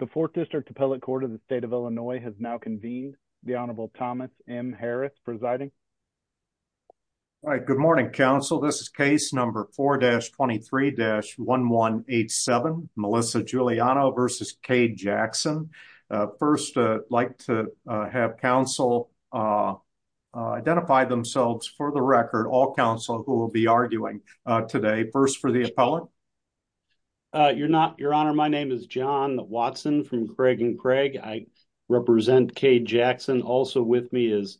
The 4th District Appellate Court of the State of Illinois has now convened. The Honorable Thomas M. Harris presiding. All right, good morning, counsel. This is case number 4-23-1187, Melissa Giuliano v. Kaye Jackson. First, I'd like to have counsel identify themselves for the record, all counsel who will be arguing today. First, for the appellate. You're not, Your Honor. My name is John Watson from Craig & Craig. I represent Kaye Jackson. Also with me is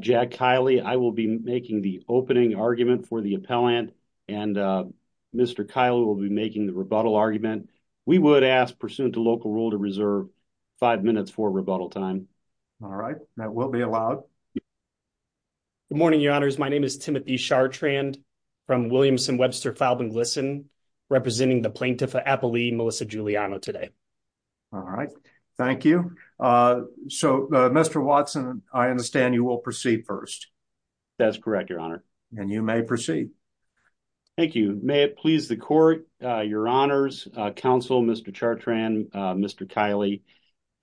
Jack Kiley. I will be making the opening argument for the appellant, and Mr. Kiley will be making the rebuttal argument. We would ask pursuant to local rule to reserve five minutes for rebuttal time. All right, that will be allowed. Good morning, Your Honors. My name is Timothy Chartrand from Williamson-Webster-Falbenglison. Representing the plaintiff appellee, Melissa Giuliano today. All right, thank you. So, Mr. Watson, I understand you will proceed first. That's correct, Your Honor. And you may proceed. Thank you. May it please the court, Your Honors, counsel, Mr. Chartrand, Mr. Kiley.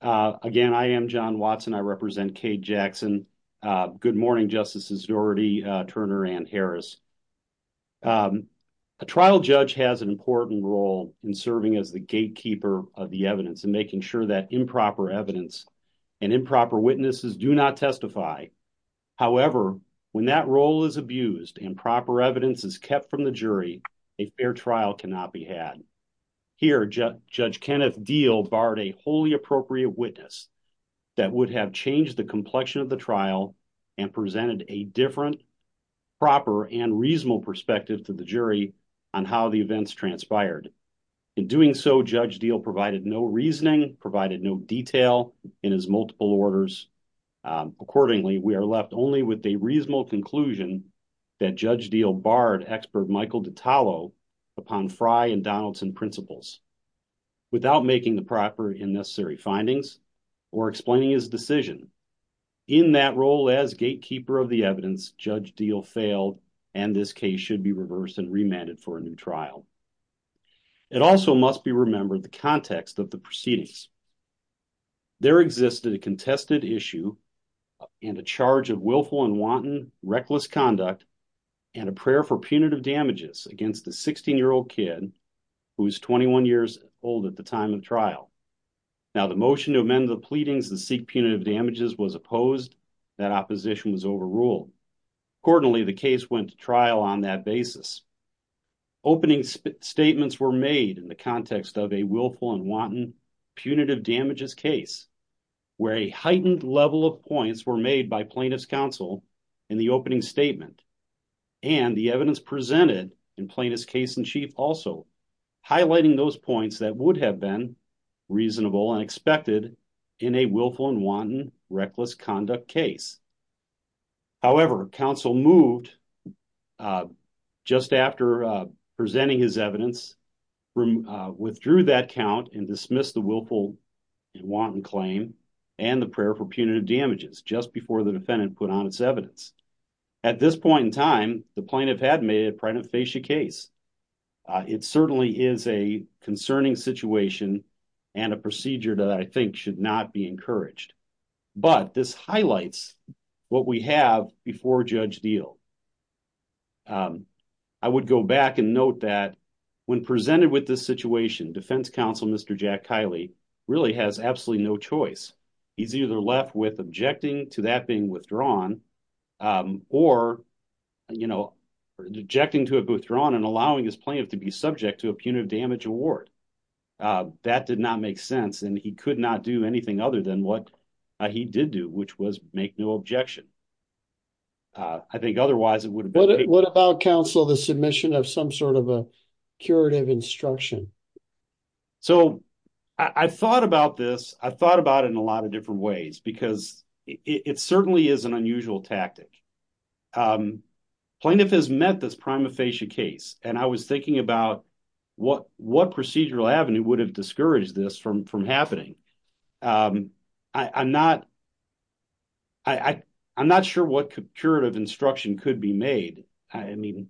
Again, I am John Watson. I represent Kaye Jackson. Good morning, Justices Dougherty, Turner, and Harris. A trial judge has an important role in serving as the gatekeeper of the evidence and making sure that improper evidence and improper witnesses do not testify. However, when that role is abused and proper evidence is kept from the jury, a fair trial cannot be had. Here, Judge Kenneth Deal barred a wholly appropriate witness that would have changed the complexion of the trial and presented a different, proper, and reasonable perspective to the jury on how the events transpired. In doing so, Judge Deal provided no reasoning, provided no detail in his multiple orders. Accordingly, we are left only with a reasonable conclusion that Judge Deal barred expert Michael DiTallo upon Fry and Donaldson principles. Without making the proper and necessary findings or explaining his decision, in that role as gatekeeper of the evidence, Judge Deal failed and this case should be reversed and remanded for a new trial. It also must be remembered the context of the proceedings. There existed a contested issue and a charge of willful and wanton reckless conduct and a prayer for punitive hold at the time of trial. Now, the motion to amend the pleadings and seek punitive damages was opposed. That opposition was overruled. Accordingly, the case went to trial on that basis. Opening statements were made in the context of a willful and wanton punitive damages case where a heightened level of points were made by plaintiff's counsel in the opening statement and the evidence presented in plaintiff's case in chief also highlighting those points that would have been reasonable and expected in a willful and wanton reckless conduct case. However, counsel moved just after presenting his evidence, withdrew that count and dismissed the willful and wanton claim and the prayer for punitive damages just before the defendant put on its evidence. At this point in time, the plaintiff had made a primate fascia case. It certainly is a concerning situation and a procedure that I think should not be encouraged, but this highlights what we have before Judge Deal. I would go back and note that when presented with this situation, defense counsel Mr. Jack Kiley really has absolutely no choice. He's either left with objecting to that being withdrawn or, you know, objecting to it withdrawn and allowing his plaintiff to be subject to a punitive damage award. That did not make sense and he could not do anything other than what he did do, which was make no objection. I think otherwise it would have been... What about counsel the submission of some curative instruction? I thought about this in a lot of different ways because it certainly is an unusual tactic. Plaintiff has met this prima facie case and I was thinking about what procedural avenue would have discouraged this from happening. I'm not sure what curative instruction could be made and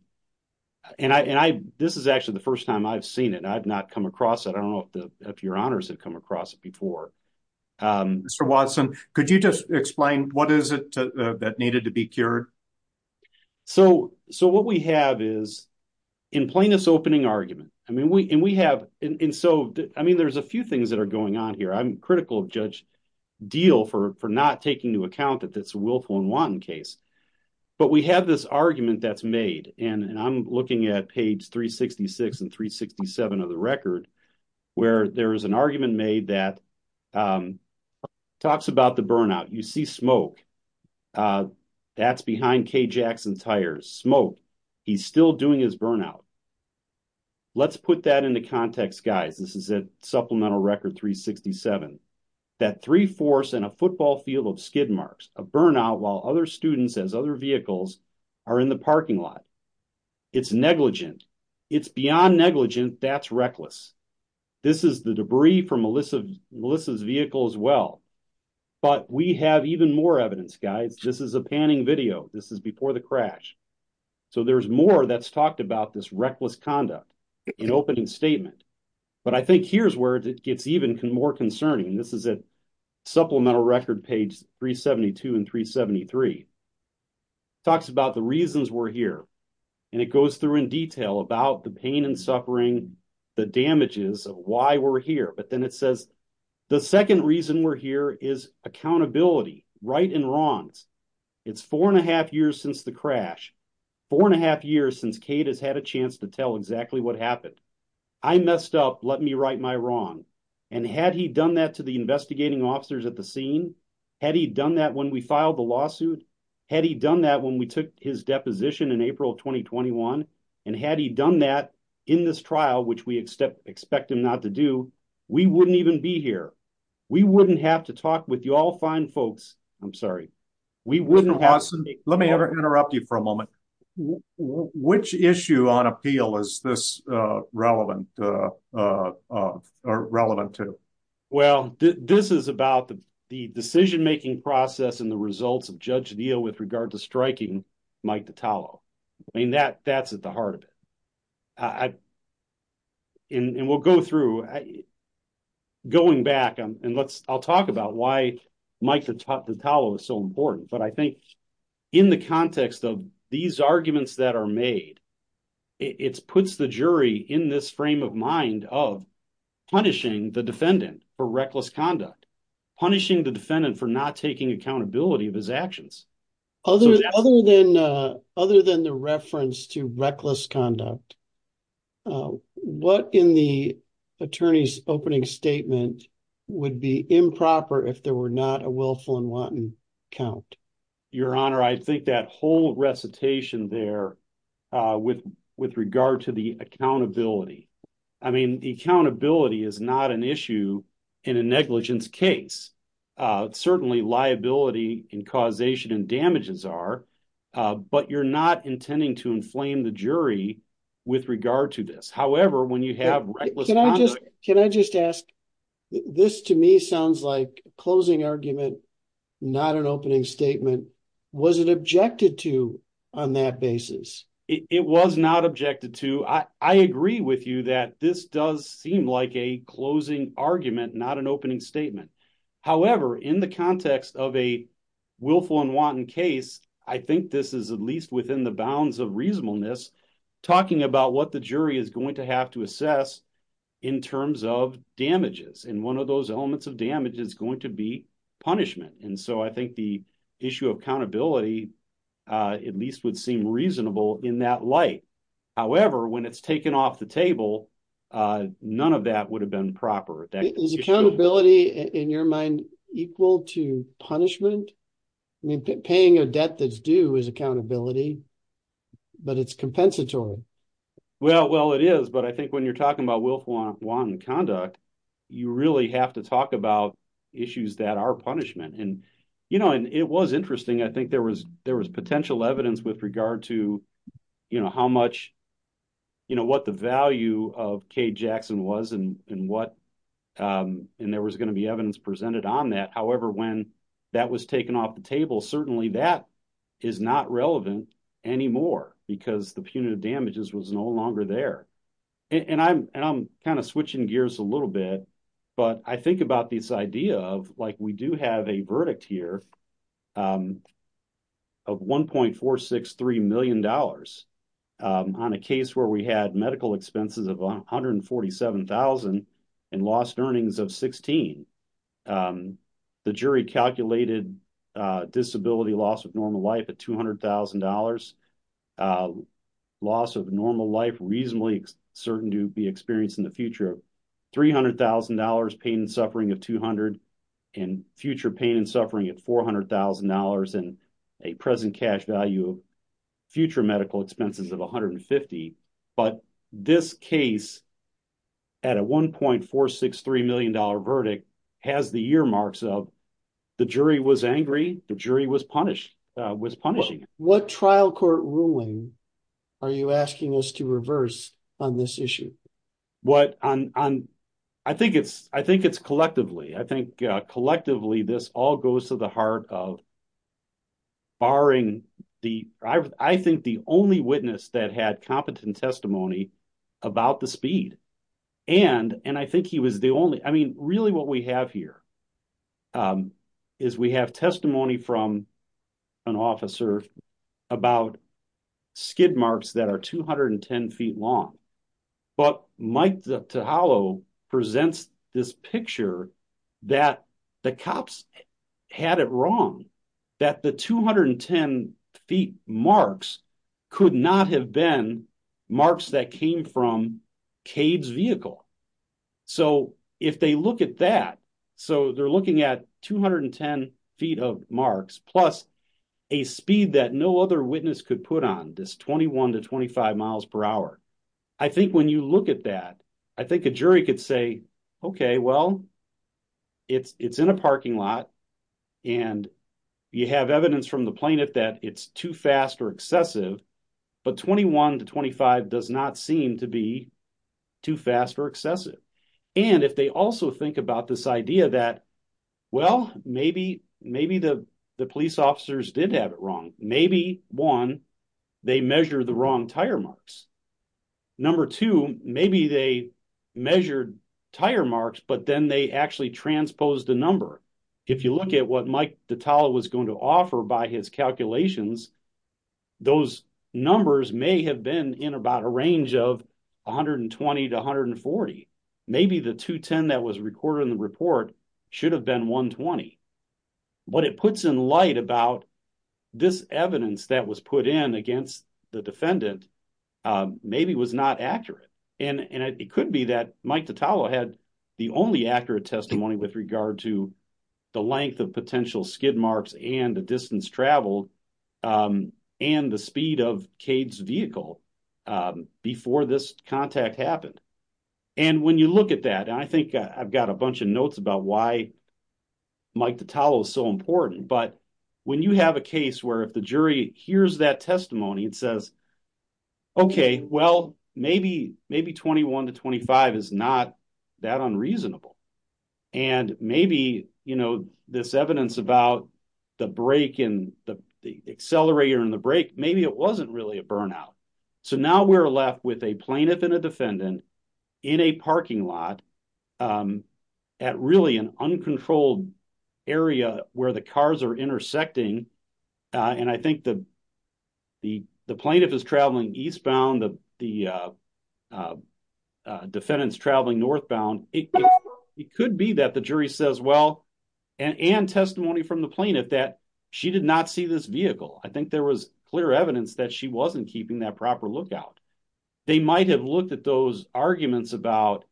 this is actually the first time I've seen it. I've not come across it. I don't know if your honors have come across it before. Mr. Watson, could you just explain what is it that needed to be cured? So what we have is in plaintiff's opening argument, I mean, there's a few things that are going on here. I'm critical of Judge Deal for not taking into account that that's a willful and wanton case. But we have this argument that's made and I'm looking at page 366 and 367 of the record where there is an argument made that talks about the burnout. You see smoke. That's behind Kay Jackson's tires. Smoke. He's still doing his burnout. Let's put that into context, guys. This is a supplemental record 367. That a football field of skid marks. A burnout while other students as other vehicles are in the parking lot. It's negligent. It's beyond negligent. That's reckless. This is the debris from Melissa's vehicle as well. But we have even more evidence, guys. This is a panning video. This is before the crash. So there's more that's talked about this reckless conduct in opening statement. But I think here's where it gets even more concerning. This is a supplemental record page 372 and 373. Talks about the reasons we're here. And it goes through in detail about the pain and suffering, the damages of why we're here. But then it says the second reason we're here is accountability. Right and wrong. It's four and a half years since the crash. Four and a half years since Kate has a chance to tell exactly what happened. I messed up. Let me right my wrong. And had he done that to the investigating officers at the scene, had he done that when we filed the lawsuit, had he done that when we took his deposition in April 2021, and had he done that in this trial, which we expect him not to do, we wouldn't even be here. We wouldn't have to talk with you all fine folks. I'm sorry. We wouldn't have to. Let me interrupt you for a moment. Which issue on appeal is this relevant or relevant to? Well, this is about the decision making process and the results of Judge Neal with regard to striking Mike Dottalo. I mean, that that's at the heart of it. And we'll go through going back and let's I'll talk about why Dottalo is so important. But I think in the context of these arguments that are made, it puts the jury in this frame of mind of punishing the defendant for reckless conduct, punishing the defendant for not taking accountability of his actions. Other than the reference to reckless conduct, what in the attorney's opening statement would be improper if there were not a willful and wanton count? Your Honor, I think that whole recitation there with with regard to the accountability. I mean, the accountability is not an issue in a negligence case. Certainly liability and causation and damages are. But you're not intending to inflame the jury with regard to this. However, when you have can I just ask? This to me sounds like a closing argument, not an opening statement. Was it objected to on that basis? It was not objected to. I agree with you that this does seem like a closing argument, not an opening statement. However, in the context of a willful and wanton case, I think this is at least within the bounds of reasonableness. Talking about what the jury is going to have to assess in terms of damages and one of those elements of damage is going to be punishment. And so I think the issue of accountability at least would seem reasonable in that light. However, when it's taken off the table, none of that would have been proper. Is accountability in your mind equal to punishment? I mean, paying a debt that's due is accountability, but it's compensatory. Well, it is. But I think when you're talking about willful and wanton conduct, you really have to talk about issues that are punishment. And it was interesting, I think there was potential evidence with regard to what the value of Kay Jackson was and what and there was going to be evidence presented on that. However, when that was taken off the table, certainly that is not relevant anymore because the punitive damages was no longer there. And I'm kind of switching gears a little bit. But I think about this idea of like we do have a verdict here of $1.463 million on a case where we had medical expenses of $147,000 and lost earnings of $16,000. The jury calculated disability loss of normal life at $200,000, loss of normal life reasonably certain to be experienced in the future of $300,000, pain and suffering of $200,000, and future pain and suffering at $400,000, and a present cash value of future medical expenses of $150,000. But this case, at a $1.463 million verdict, has the earmarks of the jury was angry, the jury was punished, was punishing. What trial court ruling are you asking us to reverse on this issue? Well, I think it's collectively. I think collectively this all goes to the heart of barring the, I think the only witness that had competent testimony about the speed. And I think he was the only, I mean, really what we have here is we have testimony from an officer about skid marks that are 210 feet long. But Mike Tahalo presents this picture that the cops had it wrong, that the 210 feet marks could not have been marks that came from plus a speed that no other witness could put on, this 21 to 25 miles per hour. I think when you look at that, I think a jury could say, okay, well, it's in a parking lot and you have evidence from the plaintiff that it's too fast or excessive, but 21 to 25 does not seem to be too fast or excessive. And if they also think about this idea that, well, maybe the police officers did have it wrong. Maybe one, they measure the wrong tire marks. Number two, maybe they measured tire marks, but then they actually transposed the number. If you look at what Mike Tahalo was going to offer by his calculations, those numbers may have been in about a range of 120 to 140. Maybe the 210 that was recorded in report should have been 120. What it puts in light about this evidence that was put in against the defendant maybe was not accurate. And it could be that Mike Tahalo had the only accurate testimony with regard to the length of potential skid marks and the distance traveled and the speed of Cade's vehicle before this contact happened. And when you look at that, I've got a bunch of notes about why Mike Tahalo is so important, but when you have a case where if the jury hears that testimony, it says, okay, well, maybe 21 to 25 is not that unreasonable. And maybe this evidence about the accelerator and the brake, maybe it wasn't really a burnout. So now we're left with a plaintiff and a defendant in a parking lot at really an uncontrolled area where the cars are intersecting. And I think the plaintiff is traveling eastbound, the defendant's traveling northbound. It could be that the jury says, well, and testimony from the plaintiff that she did not see this vehicle. I think there was evidence that she wasn't keeping that proper lookout. They might have looked at those arguments about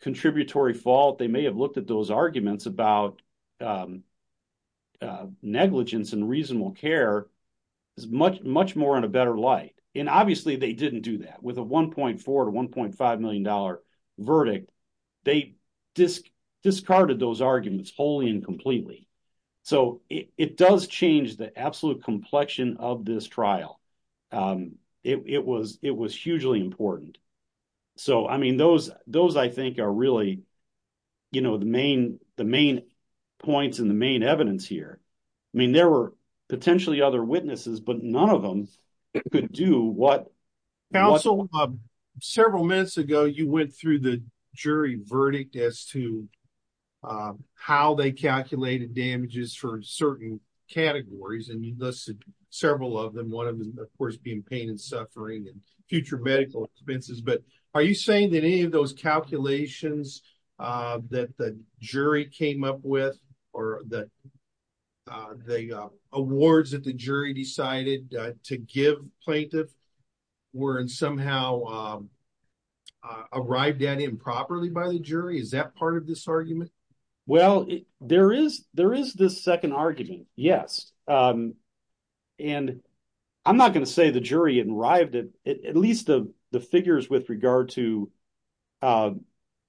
contributory fault. They may have looked at those arguments about negligence and reasonable care much more in a better light. And obviously they didn't do that with a $1.4 to $1.5 million verdict. They discarded those arguments wholly and completely. So it does change the absolute complexion of this trial. It was hugely important. So I mean, those I think are really the main points and the main evidence here. I mean, there were potentially other witnesses, but none of them could do what- Several minutes ago, you went through the jury verdict as to how they calculated damages for certain categories. And you listed several of them. One of them, of course, being pain and suffering and future medical expenses. But are you saying that any of those calculations that jury came up with or the awards that the jury decided to give plaintiff were somehow arrived at improperly by the jury? Is that part of this argument? Well, there is this second argument, yes. And I'm not going to say the jury had arrived at at least the figures with regard to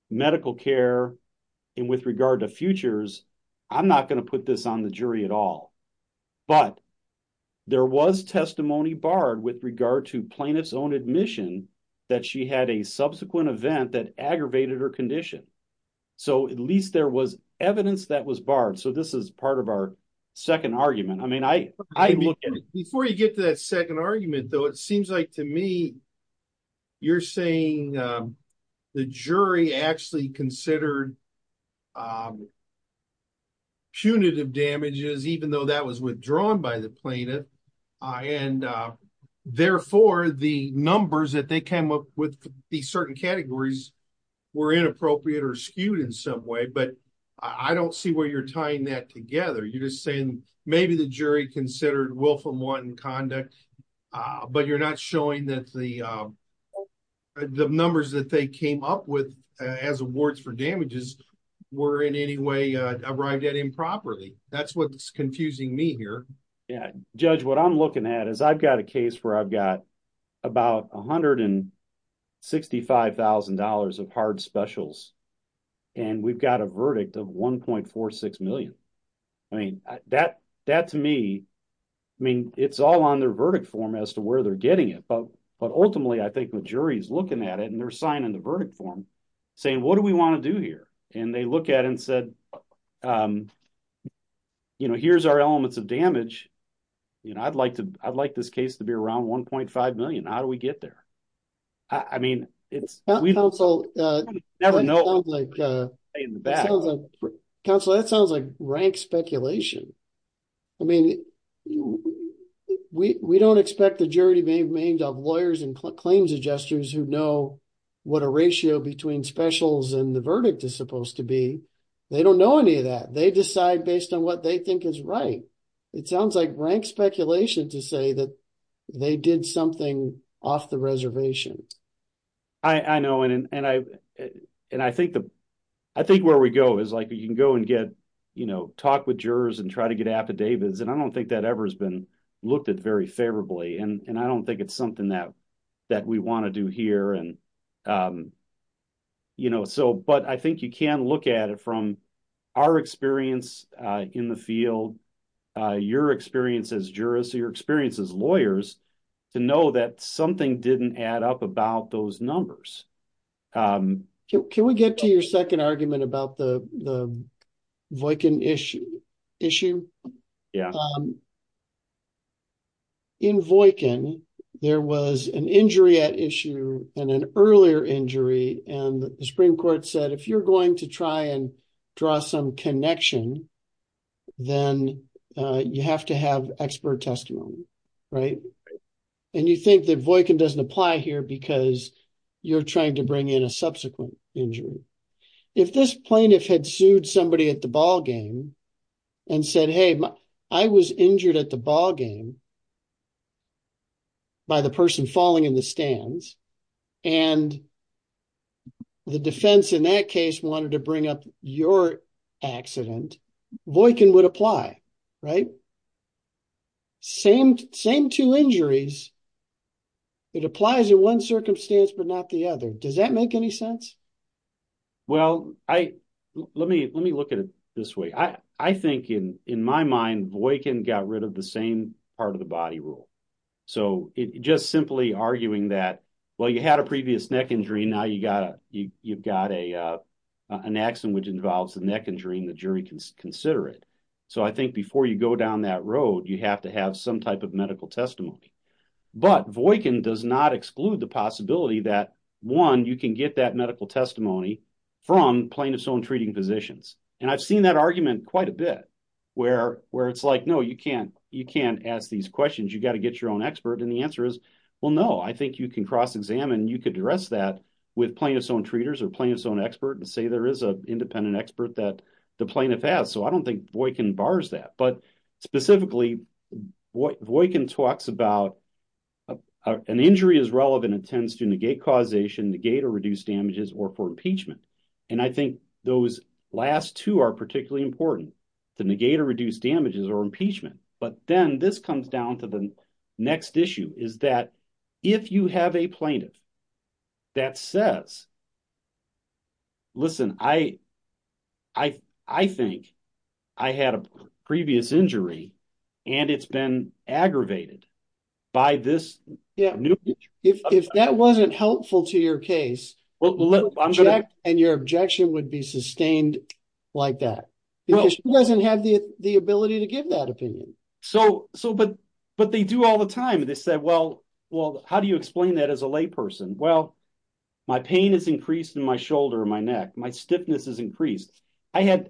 medical care and with regard to futures. I'm not going to put this on the jury at all. But there was testimony barred with regard to plaintiff's own admission that she had a subsequent event that aggravated her condition. So at least there was evidence that was barred. So this is part of our second argument. I mean, I look at it- You're saying the jury actually considered punitive damages, even though that was withdrawn by the plaintiff. And therefore, the numbers that they came up with these certain categories were inappropriate or skewed in some way. But I don't see where you're tying that together. You're just saying maybe the jury considered willful and wanton conduct, but you're not showing that the numbers that they came up with as awards for damages were in any way arrived at improperly. That's what's confusing me here. Judge, what I'm looking at is I've got a case where I've got about $165,000 of hard specials, and we've got a verdict of $1.46 million. I mean, that to me, I mean, it's all on their verdict form as to where they're getting it. But ultimately, I think the jury is looking at it, and they're signing the verdict form saying, what do we want to do here? And they look at it and said, you know, here's our elements of damage. You know, I'd like this case to be around $1.5 million. How do we get there? I mean, it's... Counsel, that sounds like rank speculation. I mean, we don't expect the jury to be made up of lawyers and claims adjusters who know what a ratio between specials and the verdict is supposed to be. They don't know any of that. They decide based on what they think is right. It sounds like rank speculation to say that they did something off the reservation. I know. And I think where we go is like, you can go and get, you know, talk with jurors and try to get affidavits. And I don't think that ever has been looked at very favorably. And I don't think it's something that we want to do here. You know, so, but I think you can look at it from our experience in the field, your experience as jurists, your experience as lawyers, to know that something didn't add up about those numbers. Can we get to your second argument about the Voican issue? Yeah. In Voican, there was an injury at issue and an earlier injury. And the Supreme Court said, you're going to try and draw some connection, then you have to have expert testimony, right? And you think that Voican doesn't apply here because you're trying to bring in a subsequent injury. If this plaintiff had sued somebody at the ballgame and said, hey, I was injured at the wanted to bring up your accident, Voican would apply, right? Same two injuries, it applies in one circumstance, but not the other. Does that make any sense? Well, let me look at it this way. I think in my mind, Voican got rid of the same part of the body rule. So, just simply arguing that, well, you had a previous neck injury, now you've got a accident which involves the neck injury and the jury can consider it. So, I think before you go down that road, you have to have some type of medical testimony. But Voican does not exclude the possibility that, one, you can get that medical testimony from plaintiff's own treating physicians. And I've seen that argument quite a bit where it's like, no, you can't ask these questions, you got to get your own expert. And the answer is, well, no, I think you can cross-examine, you could address that with plaintiff's own treaters or plaintiff's own expert and say there is an independent expert that the plaintiff has. So, I don't think Voican bars that. But specifically, Voican talks about an injury is relevant and tends to negate causation, negate or reduce damages or for impeachment. And I think those last two are particularly important, to negate or reduce damages or impeachment. But then this comes down to the next issue, is that if you have a plaintiff that says, listen, I think I had a previous injury and it's been aggravated by this new injury. If that wasn't helpful to your case, and your objection would be sustained like that, because she doesn't have the ability to give that well, how do you explain that as a lay person? Well, my pain is increased in my shoulder, my neck, my stiffness is increased. I am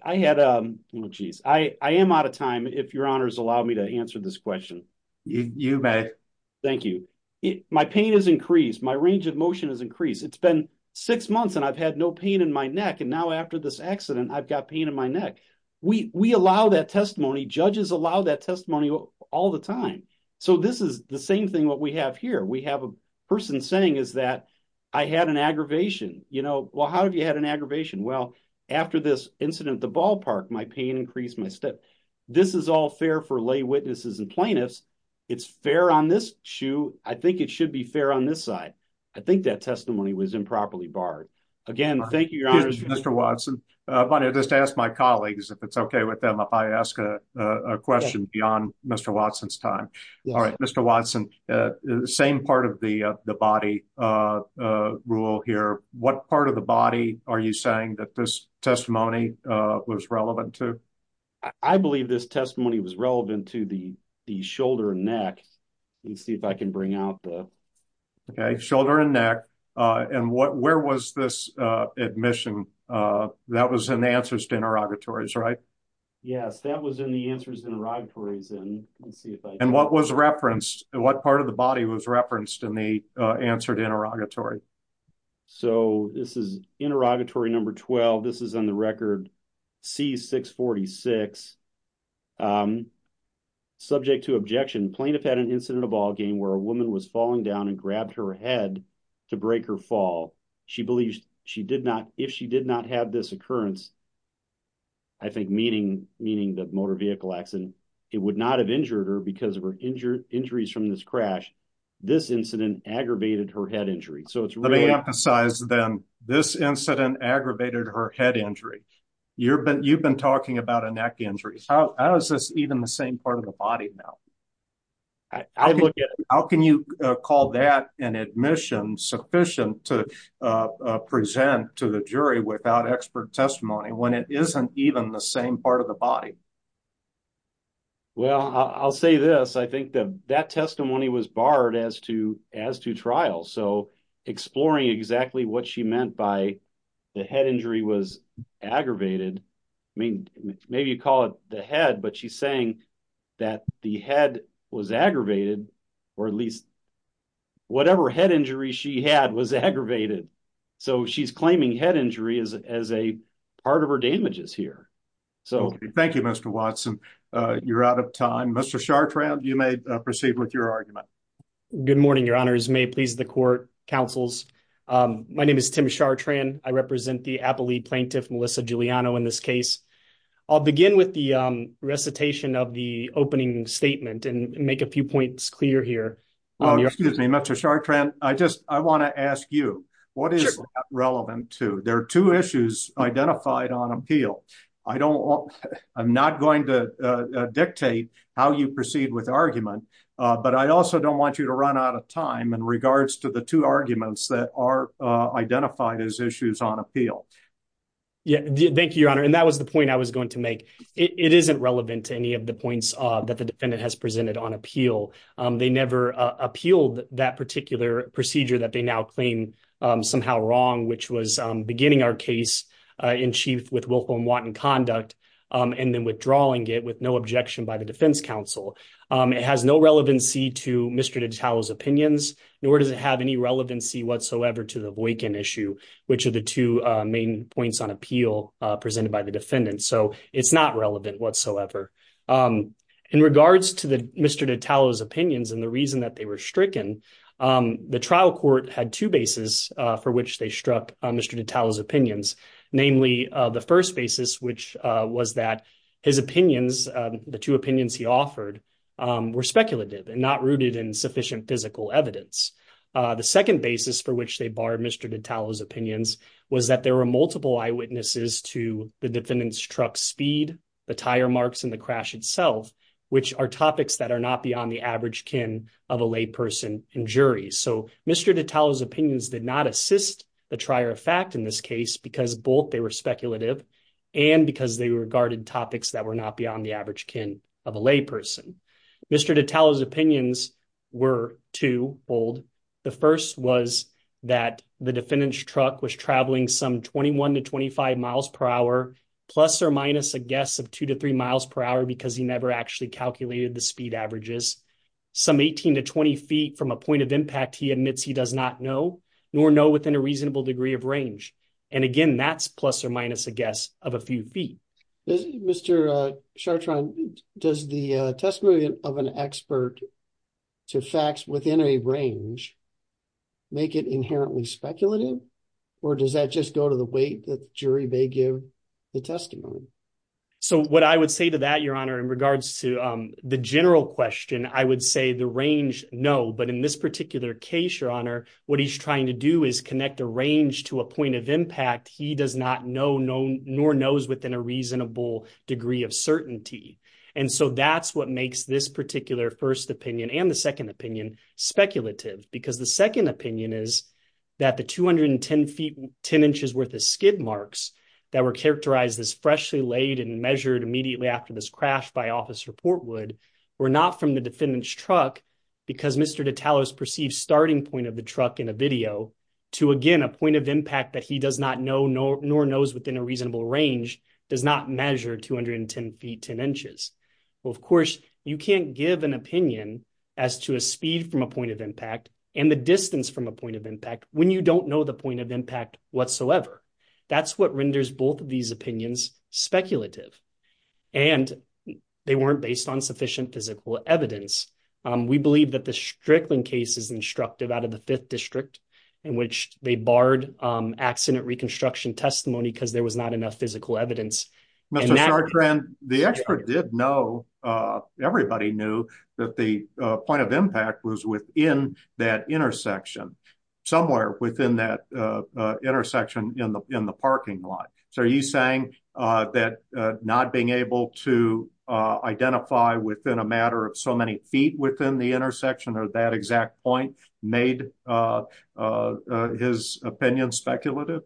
out of time, if your honors allow me to answer this question. You may. Thank you. My pain is increased, my range of motion is increased. It's been six months and I've had no pain in my neck. And now after this accident, I've got pain in my neck. We allow that testimony, judges allow that testimony all the time. So, this is the same what we have here. We have a person saying is that I had an aggravation. Well, how have you had an aggravation? Well, after this incident at the ballpark, my pain increased my step. This is all fair for lay witnesses and plaintiffs. It's fair on this shoe. I think it should be fair on this side. I think that testimony was improperly barred. Again, thank you, your honors. Mr. Watson, if I may just ask my colleagues if it's okay with them, if I ask a question beyond Mr. Watson's time. All right, Mr. Watson, the same part of the body rule here. What part of the body are you saying that this testimony was relevant to? I believe this testimony was relevant to the shoulder and neck. Let me see if I can bring out the... Okay, shoulder and neck. And where was this admission? That was in the answers to interrogatories, right? Yes, that was in the and what was referenced? What part of the body was referenced in the answered interrogatory? So this is interrogatory number 12. This is on the record C646. Subject to objection, plaintiff had an incident of all game where a woman was falling down and grabbed her head to break her fall. She believes she did not. If she did not have this occurrence, I think meaning the motor vehicle accident, it would not have injured her because of her injuries from this crash. This incident aggravated her head injury. Let me emphasize then, this incident aggravated her head injury. You've been talking about a neck injury. How is this even the same part of the body now? How can you call that an admission sufficient to present to the jury without expert testimony when it isn't even the same part of the body? Well, I'll say this, I think that that testimony was barred as to trial. So exploring exactly what she meant by the head injury was aggravated. I mean, maybe you call it the head, but she's saying that the head was aggravated or at least whatever head injury she had was aggravated. So she's claiming head injury as a part of her damages here. Thank you, Mr. Watson. You're out of time. Mr. Chartrand, you may proceed with your argument. Good morning, your honors. May it please the court, counsels. My name is Tim Chartrand. I represent the Apple League plaintiff, Melissa Giuliano, in this case. I'll begin with the recitation of the opening statement and make a few points clear here. Oh, excuse me, Mr. Chartrand. I just, I want to ask you, what is relevant to, there are two issues identified on appeal. I don't want, I'm not going to dictate how you proceed with argument, but I also don't want you to run out of time in regards to the two arguments that are identified as issues on appeal. Yeah, thank you, your honor. And that was the point I was going to make. It isn't relevant to any of the points that the defendant has presented on appeal. They never appealed that particular procedure that they now claim somehow wrong, which was beginning our case in chief with Wilhelm Watt in conduct, and then withdrawing it with no objection by the defense counsel. It has no relevancy to Mr. Detallo's opinions, nor does it have any relevancy whatsoever to the Boykin issue, which are the two main points on appeal presented by the defendant. So it's not relevant whatsoever. In regards to Mr. Detallo's opinions and the reason that they were stricken, the trial court had two bases for which they struck Mr. Detallo's opinions. Namely, the first basis, which was that his opinions, the two opinions he offered, were speculative and not rooted in sufficient physical evidence. The second basis for which they barred Mr. Detallo's opinions was that there were multiple eyewitnesses to the defendant's truck speed, the tire marks, and the crash itself, which are topics that are not beyond the average kin of a lay person and jury. So Mr. Detallo's opinions did not assist the trier of fact in this case because both they were speculative and because they regarded topics that were not beyond the average kin of a lay person. Mr. Detallo's opinions were twofold. The first was that the defendant's he never actually calculated the speed averages. Some 18 to 20 feet from a point of impact, he admits he does not know, nor know within a reasonable degree of range. And again, that's plus or minus a guess of a few feet. Mr. Chartrand, does the testimony of an expert to facts within a range make it inherently speculative or does that just go to the general question? I would say the range, no. But in this particular case, your honor, what he's trying to do is connect a range to a point of impact he does not know, nor knows within a reasonable degree of certainty. And so that's what makes this particular first opinion and the second opinion speculative. Because the second opinion is that the 210 feet, 10 inches worth of office report would were not from the defendant's truck because Mr. Detallo's perceived starting point of the truck in a video to, again, a point of impact that he does not know, nor knows within a reasonable range, does not measure 210 feet, 10 inches. Well, of course, you can't give an opinion as to a speed from a point of impact and the distance from a point of impact when you don't know the point of impact whatsoever. That's what renders both of these opinions speculative. And they weren't based on sufficient physical evidence. We believe that the Strickland case is instructive out of the fifth district in which they barred accident reconstruction testimony because there was not enough physical evidence. Mr. Chartrand, the expert did know, everybody knew that the point of impact was within that intersection, somewhere within that intersection in the parking lot. So are you saying that not being able to identify within a matter of so many feet within the intersection or that exact point made his opinion speculative?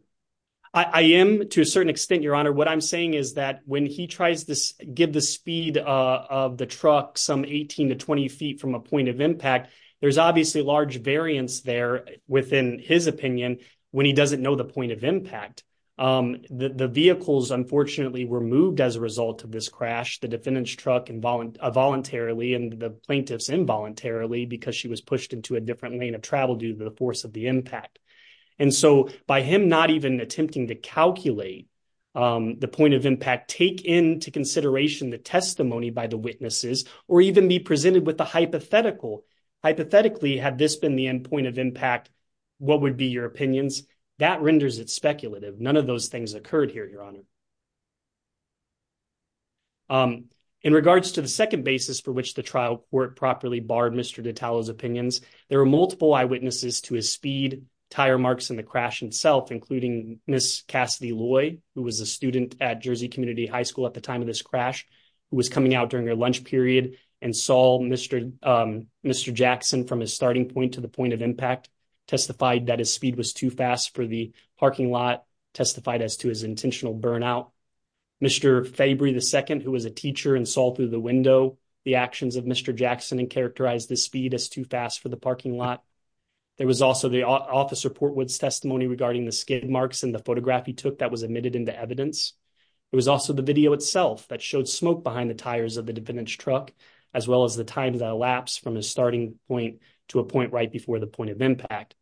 I am to a certain extent, Your Honor. What I'm saying is that when he tries to give the speed of the truck some 18 to 20 feet from a point of impact, there's obviously large variance there within his opinion when he doesn't know the point of impact. The vehicles, unfortunately, were moved as a result of this crash, the defendant's truck involuntarily and the plaintiff's involuntarily because she was pushed into a different lane of travel due to the force of the impact. And so by him not even attempting to calculate the point of impact, take into consideration the testimony by the witnesses or even be presented with a hypothetical. Hypothetically, had this been the end point of impact, what would be your opinions? That renders it speculative. None of those things occurred here, Your Honor. In regards to the second basis for which the trial work properly barred Mr. Ditalo's opinions, there were multiple eyewitnesses to his speed, tire marks in the crash itself, including Ms. Cassidy Loy, who was a student at Jersey Community High School at the time of this crash, who was coming out during her lunch period and saw Mr. Jackson from his impact, testified that his speed was too fast for the parking lot, testified as to his intentional burnout. Mr. Fabry II, who was a teacher and saw through the window the actions of Mr. Jackson and characterized the speed as too fast for the parking lot. There was also the officer Portwood's testimony regarding the skid marks and the photograph he took that was admitted into evidence. It was also the video itself that showed smoke behind the tires of the defendant's truck, as well as the time that elapsed from his starting point to a point right before the point of impact.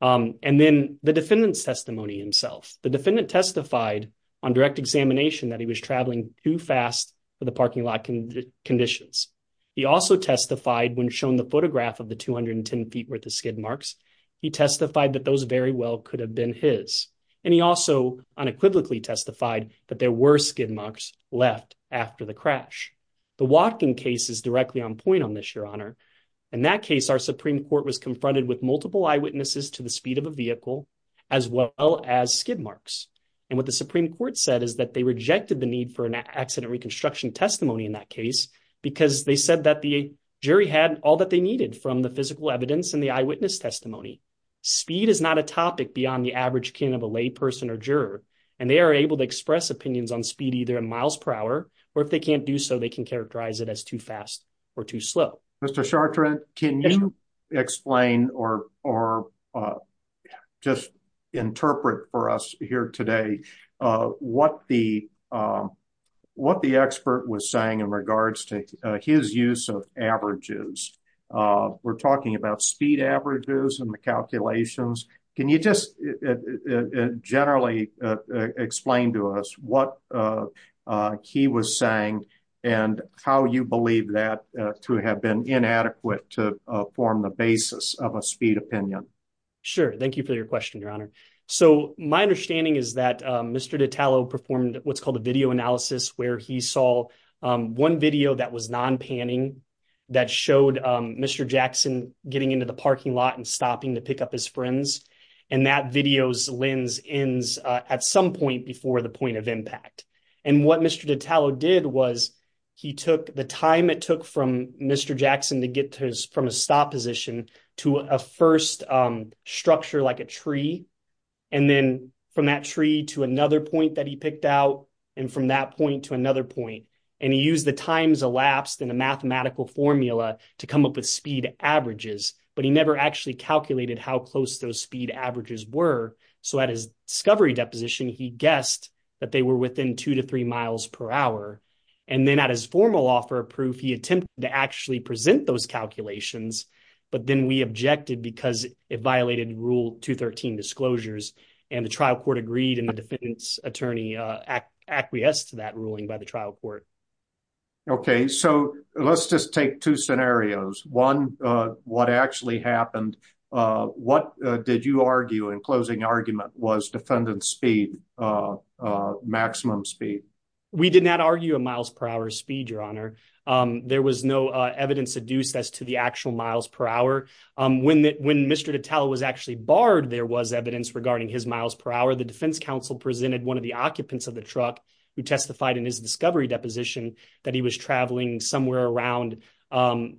And then the defendant's testimony himself. The defendant testified on direct examination that he was traveling too fast for the parking lot conditions. He also testified when shown the photograph of the 210 feet worth of skid marks, he testified that those very well could have been his. And he also unequivocally testified that there were skid marks left after the crash. The walking case is directly on point on this, your honor. In that case, our Supreme Court was confronted with multiple eyewitnesses to the speed of a vehicle, as well as skid marks. And what the Supreme Court said is that they rejected the need for an accident reconstruction testimony in that case, because they said that the jury had all that they needed from the physical evidence and the eyewitness testimony. Speed is not a topic beyond the average of a lay person or juror, and they are able to express opinions on speed either in miles per hour, or if they can't do so, they can characterize it as too fast or too slow. Mr. Chartrand, can you explain or just interpret for us here today what the expert was saying in regards to his use of averages? We're talking about speed averages and the calculations. Can you just generally explain to us what he was saying and how you believe that to have been inadequate to form the basis of a speed opinion? Sure. Thank you for your question, your honor. So my understanding is that Mr. Ditalo performed what's called a video analysis where he saw one video that was non-panning that showed Mr. Jackson getting into the parking lot and stopping to pick up his friends. And that video's lens ends at some point before the point of impact. And what Mr. Ditalo did was he took the time it took from Mr. Jackson to get from a stop position to a first structure like a tree, and then from that tree to another point that he picked out, and from that point to another point. And he used the times elapsed in a mathematical formula to come up with speed averages, but he never actually calculated how close those speed averages were. So at his discovery deposition, he guessed that they were within two to three miles per hour. And then at his formal offer of proof, he attempted to actually present those calculations, but then we objected because it violated rule 213 disclosures. And the trial court agreed and the defendant's attorney acquiesced to that ruling by the trial court. Okay, so let's just take two scenarios. One, what actually happened? What did you argue in closing argument was defendant's speed, maximum speed? We did not argue a miles per hour speed, Your Honor. There was no evidence adduced as to the actual miles per hour. When Mr. Ditalo was actually barred, there was evidence regarding his miles per hour. The defense counsel presented one of the occupants of the truck who testified in his discovery deposition that he was traveling somewhere around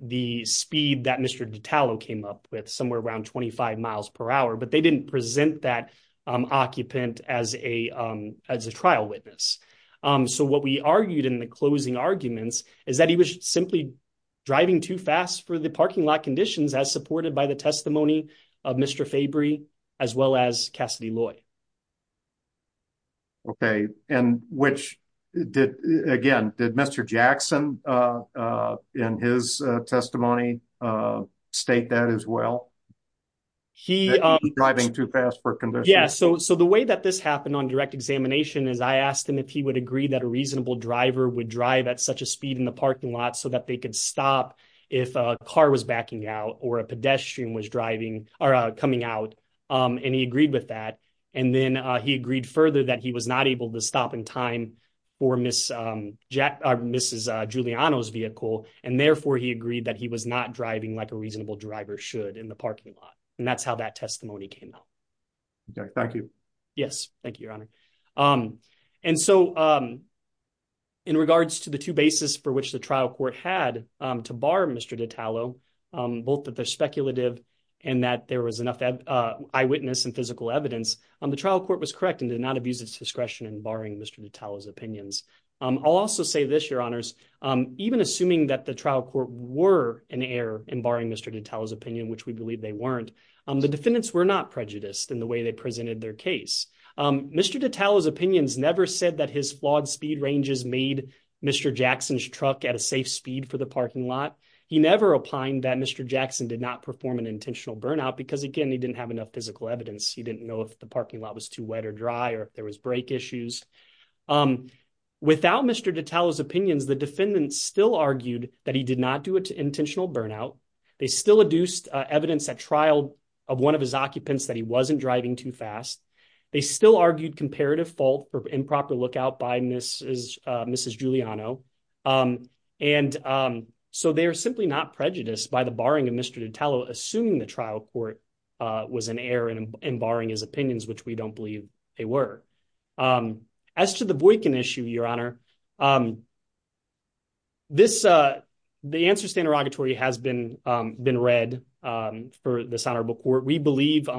the speed that Mr. Ditalo came up with, somewhere around 25 miles per hour, but they didn't present that occupant as a trial witness. So what we argued in the closing arguments is that he was simply driving too fast for the parking lot conditions as supported by testimony of Mr. Fabry as well as Cassidy Loy. Okay, and which did, again, did Mr. Jackson in his testimony state that as well? He was driving too fast for conditions. Yeah, so the way that this happened on direct examination is I asked him if he would agree that a reasonable driver would drive at such a speed in the parking lot so that they could stop if a car was backing out or a pedestrian was coming out, and he agreed with that. And then he agreed further that he was not able to stop in time for Mrs. Giuliano's vehicle, and therefore he agreed that he was not driving like a reasonable driver should in the parking lot. And that's how that testimony came out. Okay, thank you. Yes, thank you, Your Honor. And so in regards to the two bases for which the both that they're speculative and that there was enough eyewitness and physical evidence, the trial court was correct and did not abuse its discretion in barring Mr. DiTallo's opinions. I'll also say this, Your Honors. Even assuming that the trial court were in error in barring Mr. DiTallo's opinion, which we believe they weren't, the defendants were not prejudiced in the way they presented their case. Mr. DiTallo's opinions never said that his flawed speed ranges made Mr. Jackson's truck at a safe speed for the parking lot. He never opined that Mr. Jackson did not perform an intentional burnout because, again, he didn't have enough physical evidence. He didn't know if the parking lot was too wet or dry or if there was brake issues. Without Mr. DiTallo's opinions, the defendants still argued that he did not do an intentional burnout. They still adduced evidence at trial of one of his occupants that he wasn't driving too slow. So they are simply not prejudiced by the barring of Mr. DiTallo assuming the trial court was in error in barring his opinions, which we don't believe they were. As to the Boykin issue, Your Honor, the answer to the interrogatory has been read for the Sonarble Court. We believe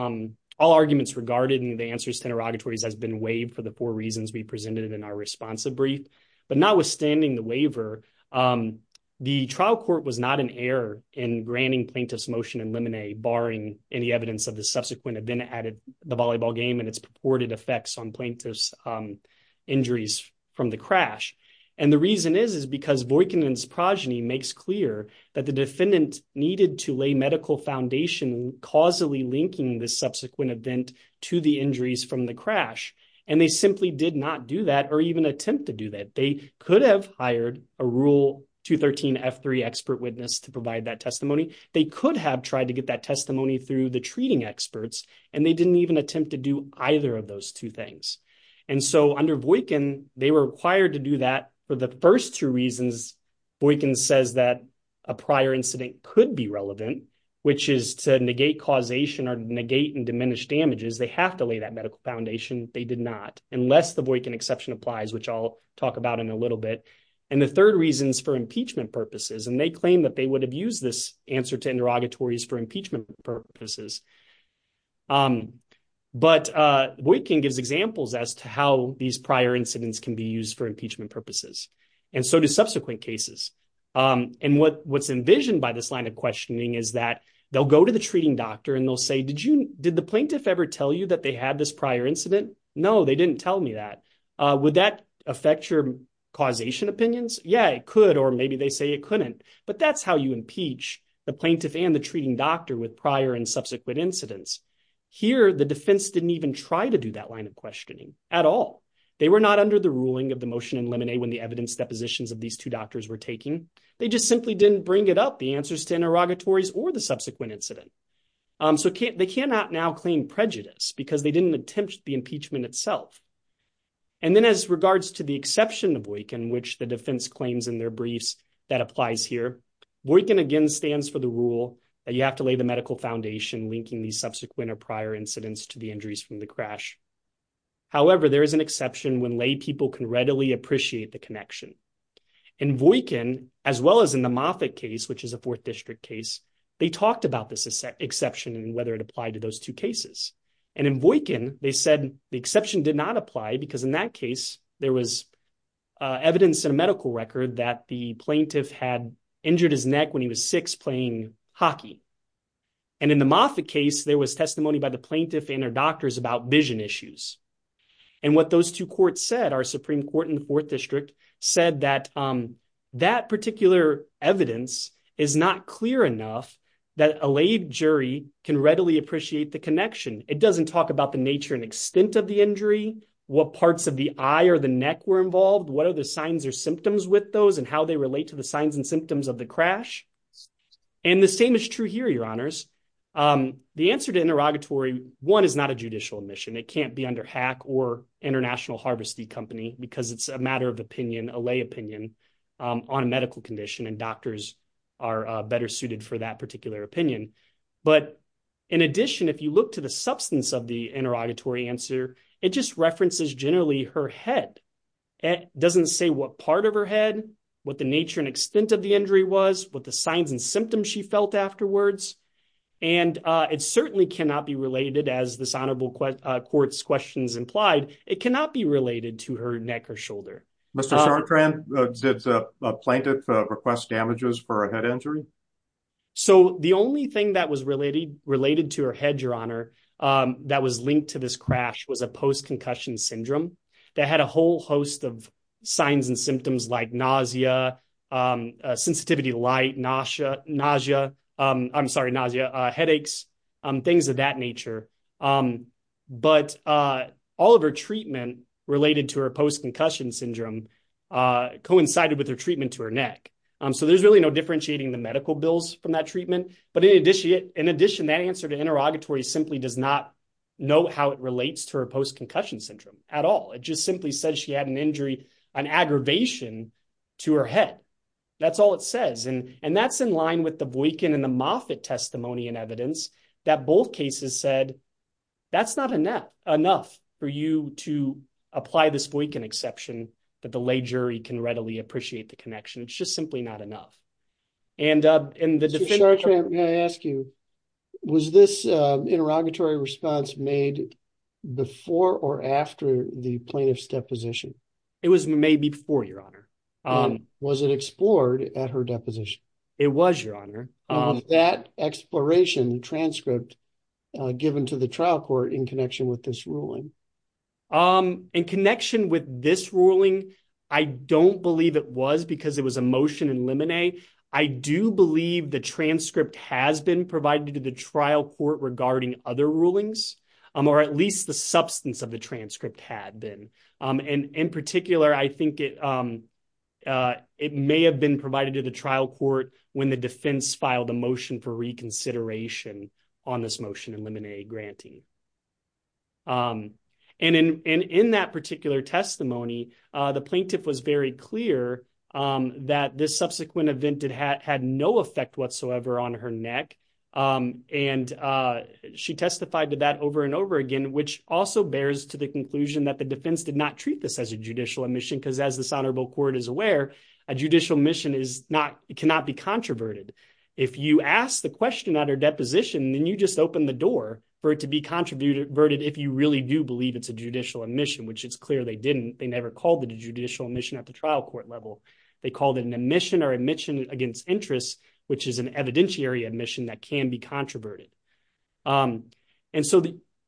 all arguments regarded in the answers to interrogatories has been waived for the four reasons we presented in our responsive brief. But notwithstanding the waiver, the trial court was not in error in granting plaintiff's motion in limine, barring any evidence of the subsequent event at the volleyball game and its purported effects on plaintiff's injuries from the crash. And the reason is, is because Boykin and his progeny makes clear that the defendant needed to lay medical foundation causally linking this subsequent event to the injuries from the crash. And they simply did not do that or even attempt to do that. They could have hired a Rule 213 F3 expert witness to provide that testimony. They could have tried to get that testimony through the treating experts, and they didn't even attempt to do either of those two things. And so under Boykin, they were required to do that for the first two reasons Boykin says that a prior incident could be relevant, which is to negate causation or negate and diminish damages. They have to lay that medical foundation. They did not, unless the Boykin exception applies, which I'll talk about in a little bit. And the third reason is for impeachment purposes. And they claim that they would have used this answer to interrogatories for impeachment purposes. But Boykin gives examples as to how these prior incidents can be used for impeachment purposes. And so do subsequent cases. And what's envisioned by this line of questioning is that they'll go to the treating doctor and they'll say, did the plaintiff ever tell you that they had this prior incident? No, they didn't tell me that. Would that affect your causation opinions? Yeah, it could, or maybe they say it couldn't. But that's how you impeach the plaintiff and the treating doctor with prior and subsequent incidents. Here, the defense didn't even try to do that line of questioning at all. They were not under the ruling of the motion in Lemonade when the evidence depositions of these two doctors were taken. They just simply didn't bring it up, answers to interrogatories or the subsequent incident. So they cannot now claim prejudice because they didn't attempt the impeachment itself. And then as regards to the exception of Boykin, which the defense claims in their briefs that applies here, Boykin again stands for the rule that you have to lay the medical foundation linking these subsequent or prior incidents to the injuries from the crash. However, there is an exception when lay people can readily appreciate the connection. In Boykin, as well as in the Moffitt case, which is a fourth district case, they talked about this exception and whether it applied to those two cases. And in Boykin, they said the exception did not apply because in that case, there was evidence in a medical record that the plaintiff had injured his neck when he was six playing hockey. And in the Moffitt case, there was testimony by the plaintiff and her doctors about vision issues. And what those courts said, our Supreme Court in the fourth district said that that particular evidence is not clear enough that a lay jury can readily appreciate the connection. It doesn't talk about the nature and extent of the injury, what parts of the eye or the neck were involved, what are the signs or symptoms with those and how they relate to the signs and symptoms of the crash. And the same is true here, your honors. The answer to interrogatory one is not a judicial admission. It can't be under HACC or International Harvesting Company because it's a matter of opinion, a lay opinion on a medical condition and doctors are better suited for that particular opinion. But in addition, if you look to the substance of the interrogatory answer, it just references generally her head. It doesn't say what part of her head, what the nature and extent of the injury was, what the signs and symptoms she felt afterwards. And it certainly cannot be related as this honorable court's questions implied, it cannot be related to her neck or shoulder. Mr. Chartrand, did a plaintiff request damages for a head injury? So the only thing that was related to her head, your honor, that was linked to this crash was a post-concussion syndrome that had a whole host of signs and symptoms like nausea, sensitivity to light, nausea, I'm sorry, nausea, headaches, things of that nature. But all of her treatment related to her post-concussion syndrome coincided with her treatment to her neck. So there's really no differentiating the medical bills from that treatment. But in addition, that answer to interrogatory simply does not know how it relates to her post-concussion syndrome at all. It just simply says she had an injury, an aggravation to her head. That's all it says. And that's in line with the Boykin and the Moffitt testimony and evidence that both cases said, that's not enough for you to apply this Boykin exception that the lay jury can readily appreciate the connection. It's just simply not enough. And in the- Mr. Chartrand, may I ask you, was this interrogatory response made before or after the plaintiff's deposition? It was made before, your honor. Was it explored at her deposition? It was, your honor. That exploration transcript given to the trial court in connection with this ruling? In connection with this ruling, I don't believe it was because it was a motion in limine. I do believe the transcript has been provided to the trial court regarding other rulings, or at least the substance of the transcript had been. And in particular, I think it may have been provided to the trial court when the defense filed a motion for reconsideration on this motion in limine granting. And in that particular testimony, the plaintiff was very clear that this subsequent event had no effect whatsoever on her neck. And she testified to that over and over again, which also bears to the conclusion that the defense did not treat this as a judicial emission, because as this honorable court is aware, a judicial mission cannot be controverted. If you ask the question at her deposition, then you just open the door for it to be contributed if you really do believe it's a judicial admission, which it's clear they didn't. They never called it a judicial admission at the trial court level. They called it an admission against interest, which is an evidentiary admission that can be controverted. And so,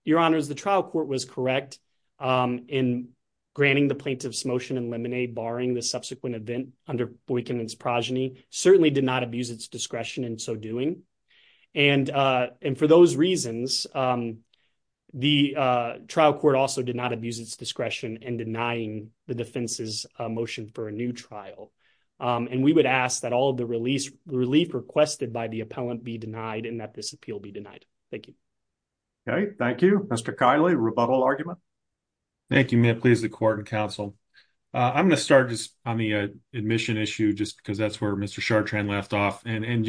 your honors, the trial court was correct in granting the plaintiff's motion in limine, barring the subsequent event under boycott and progeny, certainly did not abuse its discretion in so doing. And for those reasons, the trial court also did not abuse its discretion in denying the defense's motion for a new trial. And we would ask that all of the relief requested by the appellant be denied and that this appeal be denied. Thank you. Okay. Thank you. Mr. Kiley, rebuttal argument. Thank you. May it please the court and counsel. I'm going to start just on the admission issue just because that's where Mr. Chartrand left off. And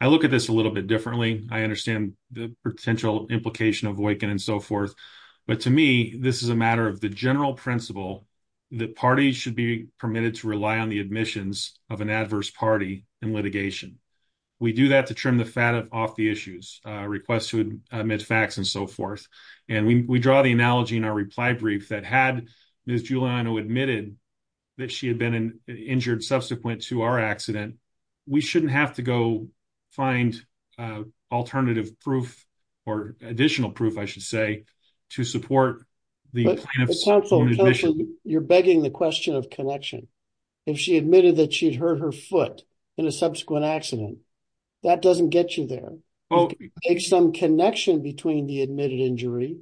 I look at this a little bit differently. I understand the potential implication of boycott and so forth. But to me, this is a matter of the party should be permitted to rely on the admissions of an adverse party in litigation. We do that to trim the fat off the issues, requests to admit facts and so forth. And we draw the analogy in our reply brief that had Ms. Giuliano admitted that she had been injured subsequent to our accident, we shouldn't have to go find alternative proof or additional proof, to support the plaintiff's own admission. But counsel, you're begging the question of connection. If she admitted that she'd hurt her foot in a subsequent accident, that doesn't get you there. It's some connection between the admitted injury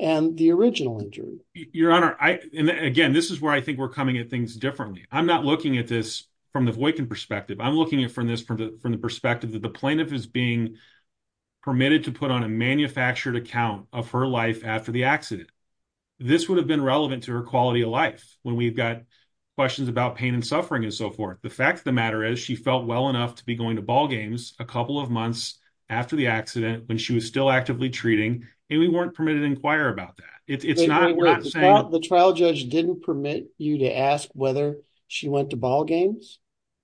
and the original injury. Your Honor, and again, this is where I think we're coming at things differently. I'm not looking at this from the Voight-Kinn perspective. I'm looking at it from the perspective that the plaintiff is being permitted to put on a manufactured account of her life after the accident. This would have been relevant to her quality of life when we've got questions about pain and suffering and so forth. The fact of the matter is she felt well enough to be going to ballgames a couple of months after the accident when she was still actively treating, and we weren't permitted to inquire about that. It's not, we're not saying- The trial judge didn't permit you to ask whether she went to ballgames?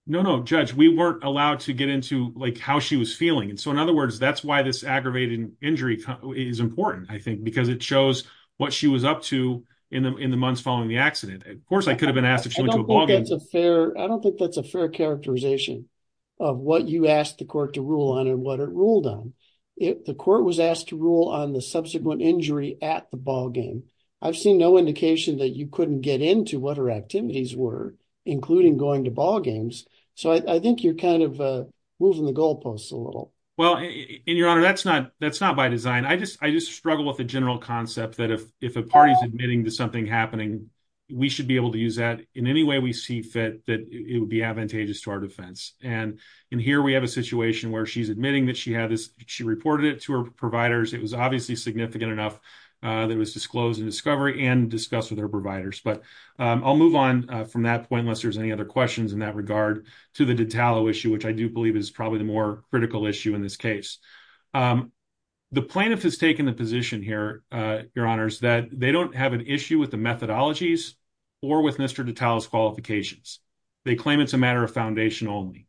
No, no, Judge. We weren't allowed to get into how she was feeling. In other words, that's why this aggravated injury is important, I think, because it shows what she was up to in the months following the accident. Of course, I could have been asked if she went to a ballgame. I don't think that's a fair characterization of what you asked the court to rule on and what it ruled on. The court was asked to rule on the subsequent injury at the ballgame. I've seen no indication that you couldn't get into what her I think you're kind of moving the goalposts a little. Well, Your Honor, that's not by design. I just struggle with the general concept that if a party's admitting to something happening, we should be able to use that in any way we see fit that it would be advantageous to our defense. Here we have a situation where she's admitting that she reported it to her providers. It was obviously significant enough that it was disclosed in discovery and discussed with her providers. I'll move on from that point unless there's other questions in that regard to the Detallo issue, which I do believe is probably the more critical issue in this case. The plaintiff has taken the position here, Your Honor, that they don't have an issue with the methodologies or with Mr. Detallo's qualifications. They claim it's a matter of foundation only.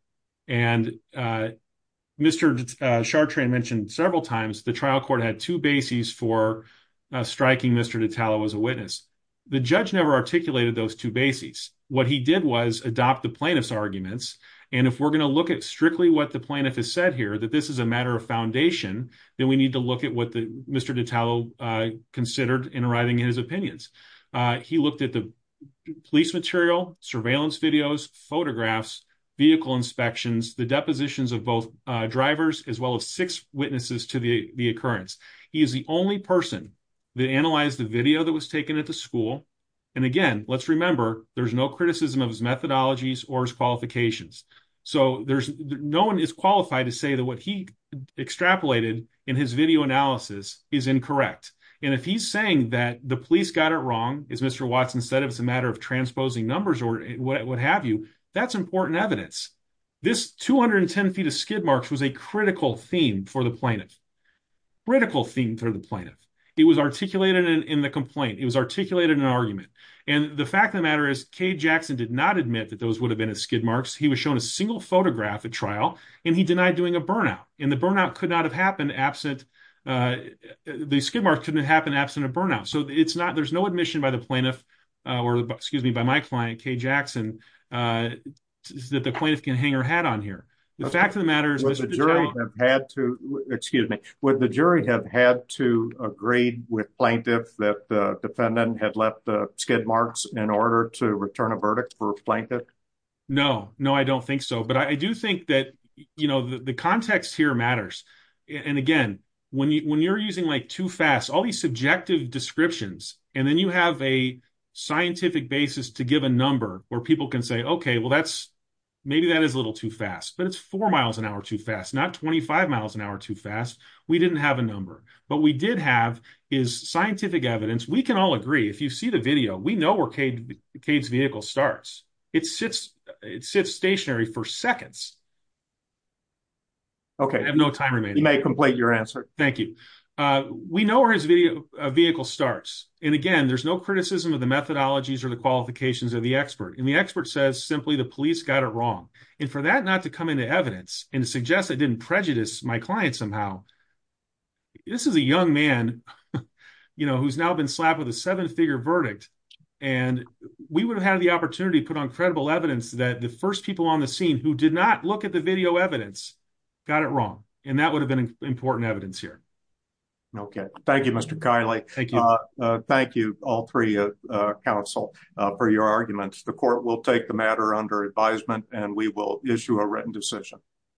Mr. Chartrand mentioned several times the trial court had two bases for striking Mr. Detallo as a witness. The judge never articulated those two bases. What he did was adopt the plaintiff's arguments. If we're going to look at strictly what the plaintiff has said here, that this is a matter of foundation, then we need to look at what Mr. Detallo considered in arriving at his opinions. He looked at the police material, surveillance videos, photographs, vehicle inspections, the depositions of both drivers, as well as six witnesses to the occurrence. He is the only person that analyzed the video that was taken at the time. There's no criticism of his methodologies or his qualifications. No one is qualified to say that what he extrapolated in his video analysis is incorrect. If he's saying that the police got it wrong, as Mr. Watson said, it was a matter of transposing numbers or what have you, that's important evidence. This 210 feet of skid marks was a critical theme for the plaintiff. It was articulated in the complaint. It was articulated in an argument. The fact of the matter is, Kay Jackson did not admit that those would have been his skid marks. He was shown a single photograph at trial, and he denied doing a burnout. The burnout could not have happened absent... The skid mark couldn't have happened absent a burnout. There's no admission by the plaintiff, or excuse me, by my client, Kay Jackson, that the plaintiff can hang her hat on here. The fact of the matter is... Would the jury have had to agree with plaintiff that the defendant had left the skid marks in order to return a verdict for a plaintiff? No, no, I don't think so. But I do think that the context here matters. And again, when you're using like too fast, all these subjective descriptions, and then you have a scientific basis to give a number where people can say, okay, well, maybe that is a little too fast, but it's four miles an hour too fast, not 25 miles an hour too fast. We didn't have a number, but we did have his scientific evidence. We can all agree. If you see the video, we know where Kay's vehicle starts. It sits stationary for seconds. Okay. I have no time remaining. You may complete your answer. Thank you. We know where his vehicle starts. And again, there's no criticism of the methodologies or the qualifications of the expert. And the expert says simply the police got it wrong. And for that not to come into evidence and to suggest it didn't prejudice my client somehow, this is a young man who's now been slapped with a seven figure verdict. And we would have had the opportunity to put on credible evidence that the first people on the scene who did not look at the video evidence got it wrong. And that would have been important evidence here. Okay. Thank you, Mr. Kiley. Thank you. Thank you. All three council for your arguments. The court will take the matter under advisement and we will issue a written decision.